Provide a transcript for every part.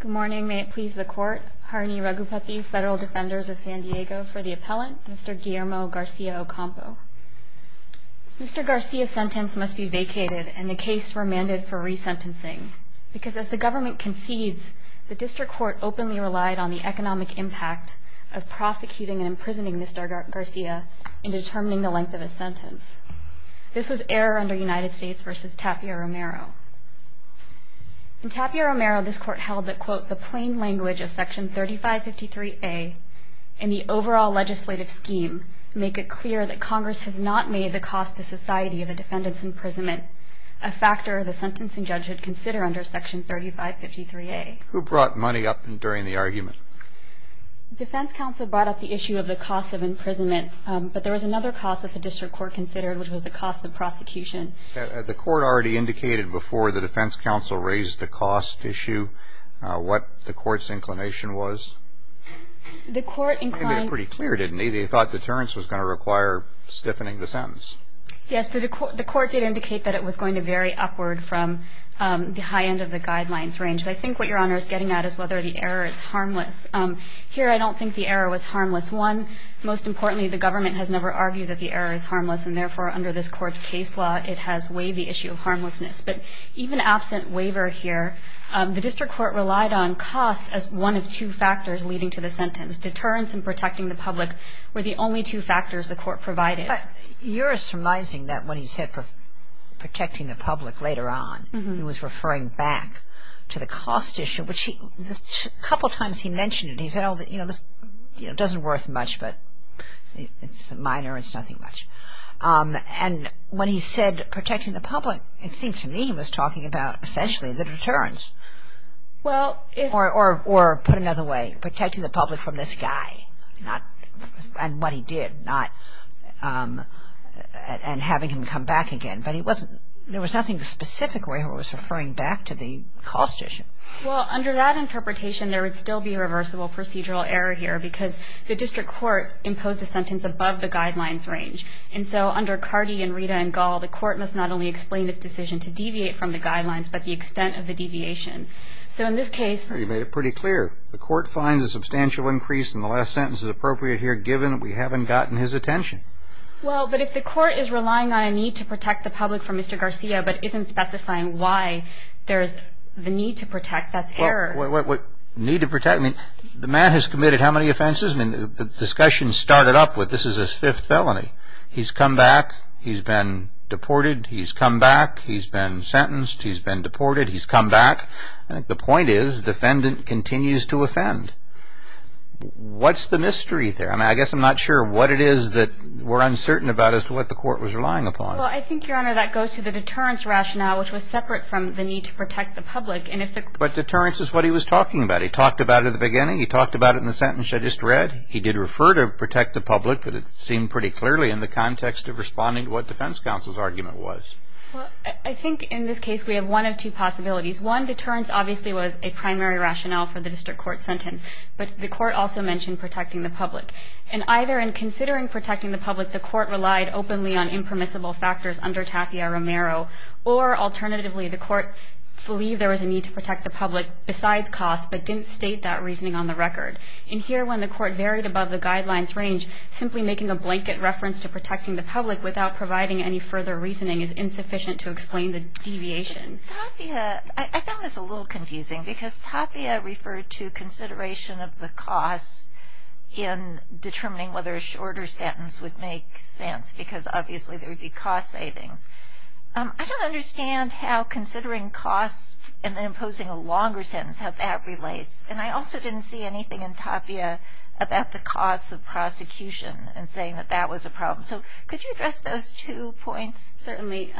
Good morning, may it please the Court. Harini Raghupathy, Federal Defenders of San Diego for the Appellant, Mr. Guillermo Garcia-Ocampo. Mr. Garcia's sentence must be vacated and the case remanded for resentencing. Because as the government concedes, the District Court openly relied on the economic impact of prosecuting and imprisoning Mr. Garcia in determining the length of his sentence. This was error under United States v. Tapia Romero. In Tapia Romero, this Court held that, quote, the plain language of Section 3553A in the overall legislative scheme make it clear that Congress has not made the cost to society of a defendant's imprisonment a factor the sentencing judge should consider under Section 3553A. Who brought money up during the argument? Defense counsel brought up the issue of the cost of imprisonment, but there was another cost that the District Court considered, which was the cost of prosecution. The Court already indicated before the defense counsel raised the cost issue what the Court's inclination was? The Court inclined... They made it pretty clear, didn't they? They thought deterrence was going to require stiffening the sentence. Yes, the Court did indicate that it was going to vary upward from the high end of the guidelines range. I think what Your Honor is getting at is whether the error is harmless. Here, I don't think the error was harmless. One, most importantly, the government has never argued that the error is harmless, and therefore, under this Court's case law, it has weighed the issue of harmlessness. But even absent waiver here, the District Court relied on cost as one of two factors leading to the sentence. Deterrence and protecting the public were the only two factors the Court provided. But you're surmising that when he said protecting the public later on, he was referring back to the cost issue, which a couple times he mentioned it. He said, you know, this doesn't worth much, but it's minor, it's nothing much. And when he said protecting the public, it seemed to me he was talking about essentially the deterrence. Or put another way, protecting the public from this guy and what he did, and having him come back again. But there was nothing specific where he was referring back to the cost issue. Well, under that interpretation, there would still be reversible procedural error here, because the District Court imposed a sentence above the guidelines range. And so under Carty and Rita and Gall, the Court must not only explain its decision to deviate from the guidelines, but the extent of the deviation. So in this case… You made it pretty clear. The Court finds a substantial increase in the last sentence is appropriate here, given that we haven't gotten his attention. Well, but if the Court is relying on a need to protect the public from Mr. Garcia, but isn't specifying why there's the need to protect, that's error. What need to protect? I mean, the man has committed how many offenses? I mean, the discussion started up with this is his fifth felony. He's come back. He's been deported. He's come back. He's been sentenced. He's been deported. He's come back. The point is, the defendant continues to offend. What's the mystery there? I mean, I guess I'm not sure what it is that we're uncertain about as to what the Court was relying upon. Well, I think, Your Honor, that goes to the deterrence rationale, which was separate from the need to protect the public. But deterrence is what he was talking about. He talked about it at the beginning. He talked about it in the sentence I just read. He did refer to protect the public, but it seemed pretty clearly in the context of responding to what defense counsel's argument was. Well, I think in this case we have one of two possibilities. One, deterrence obviously was a primary rationale for the district court sentence. But the Court also mentioned protecting the public. And either in considering protecting the public, the Court relied openly on impermissible factors under Tapia Romero, or alternatively the Court believed there was a need to protect the public besides costs but didn't state that reasoning on the record. And here, when the Court varied above the guidelines range, simply making a blanket reference to protecting the public without providing any further reasoning is insufficient to explain the deviation. Tapia, I found this a little confusing because Tapia referred to consideration of the costs in determining whether a shorter sentence would make sense because obviously there would be cost savings. I don't understand how considering costs and imposing a longer sentence, how that relates. And I also didn't see anything in Tapia about the costs of prosecution and saying that that was a problem. So could you address those two points? Certainly.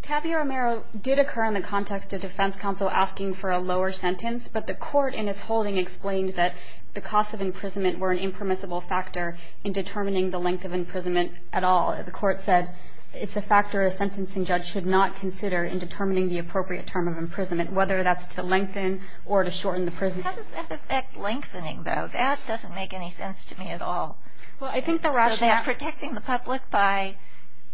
Tapia Romero did occur in the context of defense counsel asking for a lower sentence, but the Court in its holding explained that the costs of imprisonment were an impermissible factor in determining the length of imprisonment at all. The Court said it's a factor a sentencing judge should not consider in determining the appropriate term of imprisonment, whether that's to lengthen or to shorten the prison. How does that affect lengthening, though? That doesn't make any sense to me at all. Well, I think the rationale So they're protecting the public by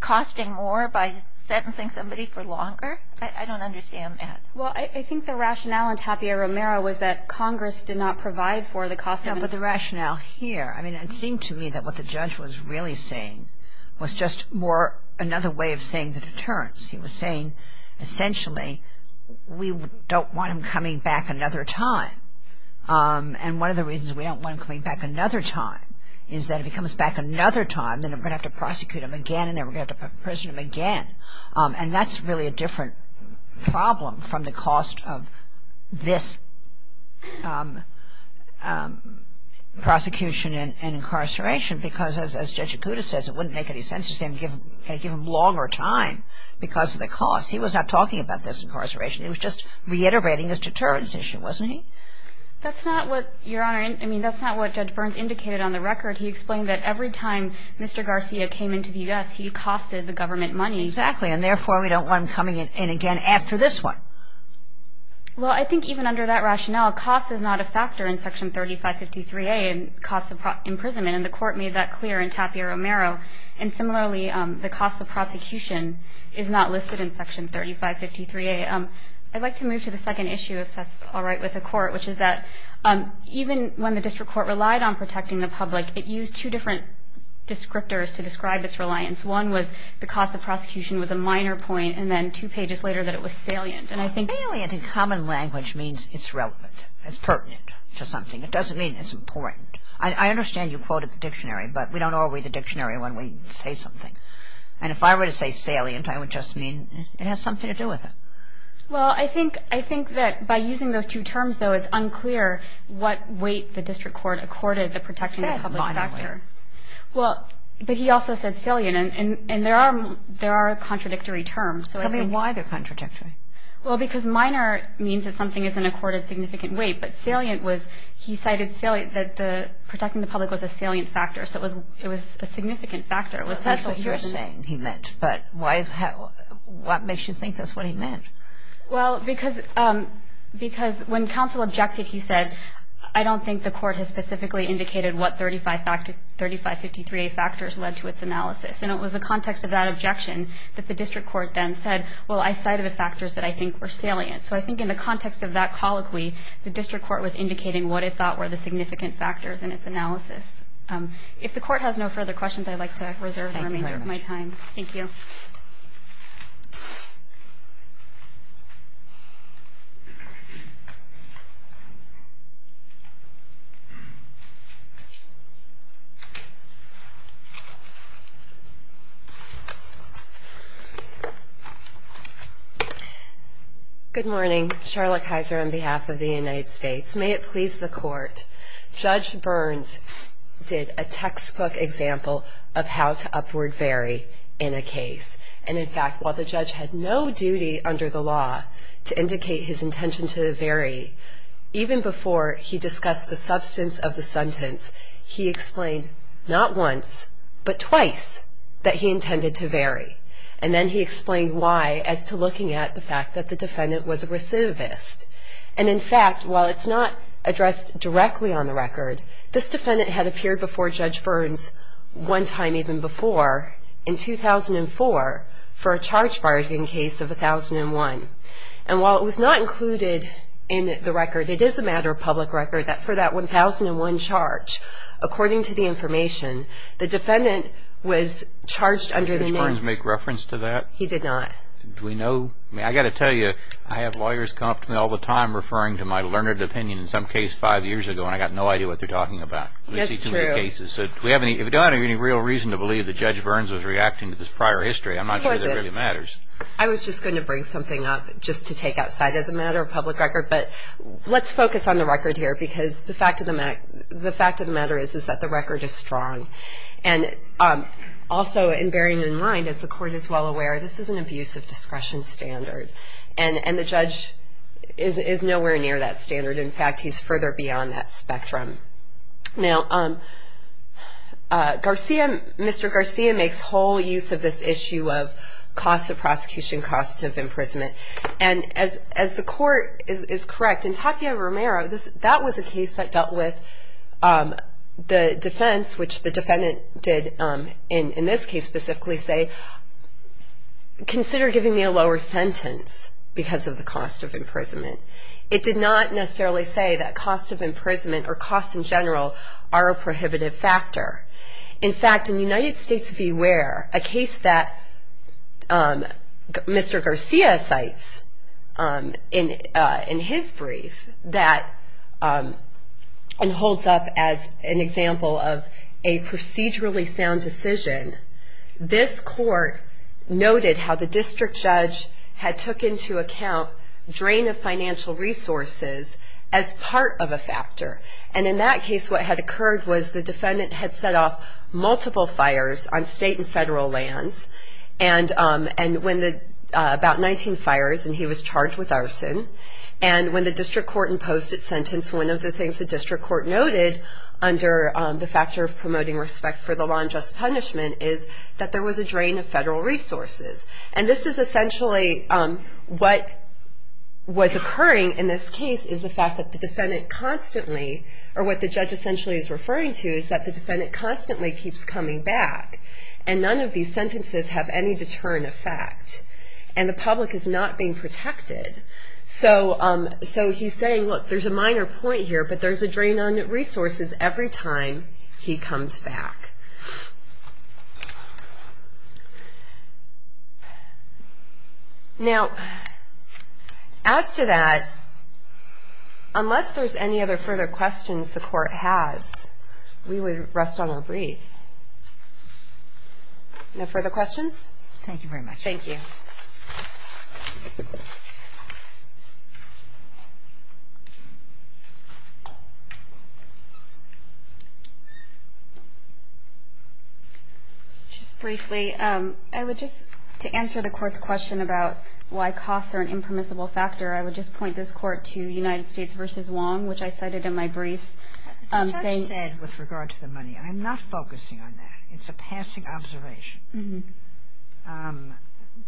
costing more, by sentencing somebody for longer? I don't understand that. Well, I think the rationale in Tapia Romero was that Congress did not provide for the cost of No, but the rationale here, I mean, it seemed to me that what the judge was really saying was just more another way of saying the deterrence. He was saying essentially we don't want him coming back another time. And one of the reasons we don't want him coming back another time is that if he comes back another time, then we're going to have to prosecute him again and then we're going to have to put him in prison again. And that's really a different problem from the cost of this prosecution and incarceration because as Judge Acuda says, it wouldn't make any sense to give him longer time because of the cost. He was not talking about this incarceration. It was just reiterating this deterrence issue, wasn't he? That's not what, Your Honor, I mean, that's not what Judge Burns indicated on the record. He explained that every time Mr. Garcia came into the U.S., he costed the government money. Exactly. And therefore, we don't want him coming in again after this one. Well, I think even under that rationale, cost is not a factor in Section 3553A, cost of imprisonment, and the Court made that clear in Tapia Romero. And similarly, the cost of prosecution is not listed in Section 3553A. I'd like to move to the second issue, if that's all right with the Court, which is that even when the District Court relied on protecting the public, it used two different descriptors to describe its reliance. One was the cost of prosecution was a minor point, and then two pages later that it was salient. Well, salient in common language means it's relevant, it's pertinent to something. It doesn't mean it's important. I understand you quoted the dictionary, but we don't all read the dictionary when we say something. And if I were to say salient, I would just mean it has something to do with it. Well, I think that by using those two terms, though, it's unclear what weight the District Court accorded the protecting the public factor. It said minor weight. Well, but he also said salient, and there are contradictory terms. Tell me why they're contradictory. Well, because minor means that something is an accorded significant weight, but salient was he cited salient that the protecting the public was a salient factor, so it was a significant factor. That's what you're saying he meant, but what makes you think that's what he meant? Well, because when counsel objected, he said, I don't think the Court has specifically indicated what 3553A factors led to its analysis. And it was the context of that objection that the District Court then said, well, I cited the factors that I think were salient. So I think in the context of that colloquy, the District Court was indicating what it thought were the significant factors in its analysis. If the Court has no further questions, I'd like to reserve the remainder of my time. Thank you very much. Thank you. Good morning. Charlotte Kaiser on behalf of the United States. May it please the Court. Judge Burns did a textbook example of how to upward vary in a case. And, in fact, while the judge had no duty under the law to indicate his intention to vary, even before he discussed the substance of the sentence, he explained not once but twice that he intended to vary. And then he explained why as to looking at the fact that the defendant was a recidivist. And, in fact, while it's not addressed directly on the record, this defendant had appeared before Judge Burns one time even before, in 2004, for a charge bargaining case of 1001. And while it was not included in the record, it is a matter of public record that for that 1001 charge, according to the information, the defendant was charged under the name. Did Judge Burns make reference to that? He did not. Do we know? I mean, I've got to tell you, I have lawyers come up to me all the time referring to my learned opinion in some case five years ago, and I've got no idea what they're talking about. That's true. We don't have any real reason to believe that Judge Burns was reacting to this prior history. I'm not sure that really matters. I was just going to bring something up just to take outside as a matter of public record. But let's focus on the record here because the fact of the matter is that the record is strong. And also bearing in mind, as the Court is well aware, this is an abuse of discretion standard. And the judge is nowhere near that standard. In fact, he's further beyond that spectrum. Now, Mr. Garcia makes whole use of this issue of cost of prosecution, cost of imprisonment. And as the Court is correct, in Tapia Romero, that was a case that dealt with the defense, which the defendant did in this case specifically say, consider giving me a lower sentence because of the cost of imprisonment. It did not necessarily say that cost of imprisonment or cost in general are a prohibitive factor. In fact, in United States Beware, a case that Mr. Garcia cites in his brief, that holds up as an example of a procedurally sound decision, this Court noted how the district judge had took into account drain of financial resources as part of a factor. And in that case, what had occurred was the defendant had set off multiple fires on state and federal lands, about 19 fires, and he was charged with arson. And when the district court imposed its sentence, one of the things the district court noted under the factor of promoting respect for the law and just punishment is that there was a drain of federal resources. And this is essentially what was occurring in this case is the fact that the defendant constantly, or what the judge essentially is referring to is that the defendant constantly keeps coming back. And none of these sentences have any deterrent effect. And the public is not being protected. So he's saying, look, there's a minor point here, but there's a drain on resources every time he comes back. Now, as to that, unless there's any other further questions the court has, we would rest on our breath. No further questions? Thank you very much. Thank you. Just briefly, I would just, to answer the Court's question about why costs are an impermissible factor, I would just point this Court to United States v. Wong, which I cited in my briefs. The judge said with regard to the money. I'm not focusing on that. It's a passing observation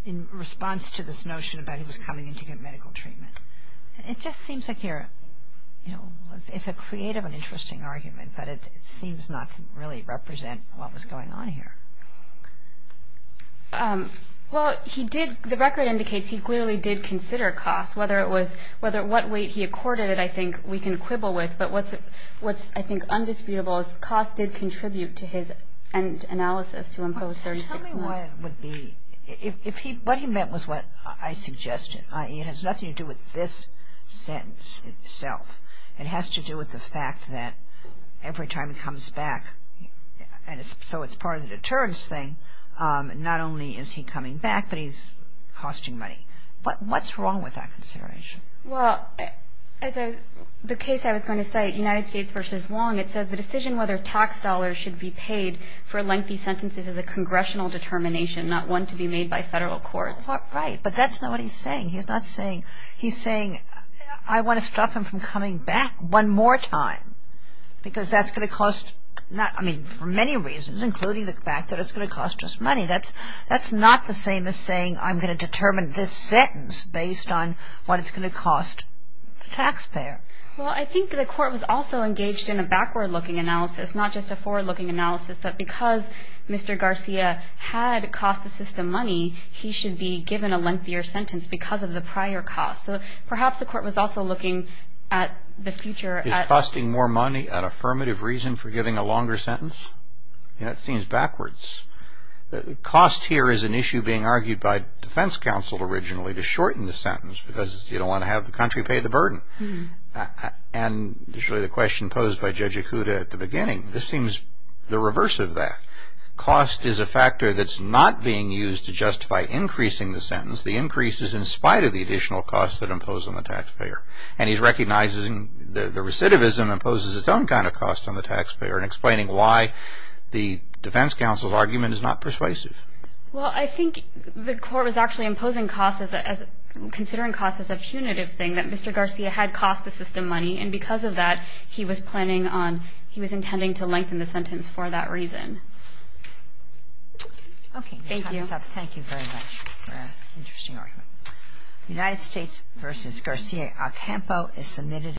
in response to this notion about he was coming in to get medical treatment. It just seems like you're, you know, it's a creative and interesting argument, but it seems not to really represent what was going on here. Well, he did, the record indicates he clearly did consider costs, whether it was, what weight he accorded it I think we can quibble with. But what's, I think, undisputable is costs did contribute to his analysis to impose 36 months. Tell me what would be, if he, what he meant was what I suggested. It has nothing to do with this sentence itself. It has to do with the fact that every time he comes back, and so it's part of the deterrence thing, not only is he coming back, but he's costing money. But what's wrong with that consideration? Well, as the case I was going to cite, United States v. Wong, it says the decision whether tax dollars should be paid for lengthy sentences is a congressional determination, not one to be made by federal courts. Right, but that's not what he's saying. He's not saying, he's saying I want to stop him from coming back one more time, because that's going to cost, I mean, for many reasons, including the fact that it's going to cost us money. That's not the same as saying I'm going to determine this sentence based on what it's going to cost the taxpayer. Well, I think the court was also engaged in a backward-looking analysis, not just a forward-looking analysis, that because Mr. Garcia had cost the system money, he should be given a lengthier sentence because of the prior cost. So perhaps the court was also looking at the future. Is costing more money an affirmative reason for giving a longer sentence? That seems backwards. Cost here is an issue being argued by defense counsel originally to shorten the sentence because you don't want to have the country pay the burden. And the question posed by Judge Ikuda at the beginning, this seems the reverse of that. Cost is a factor that's not being used to justify increasing the sentence. The increase is in spite of the additional costs that impose on the taxpayer. And he's recognizing the recidivism imposes its own kind of cost on the taxpayer and explaining why the defense counsel's argument is not persuasive. Well, I think the court was actually imposing costs as considering costs as a punitive thing, that Mr. Garcia had cost the system money, and because of that he was planning on, he was intending to lengthen the sentence for that reason. Okay. Thank you. Thank you very much. Very interesting argument. United States v. Garcia. Al Campo is submitted.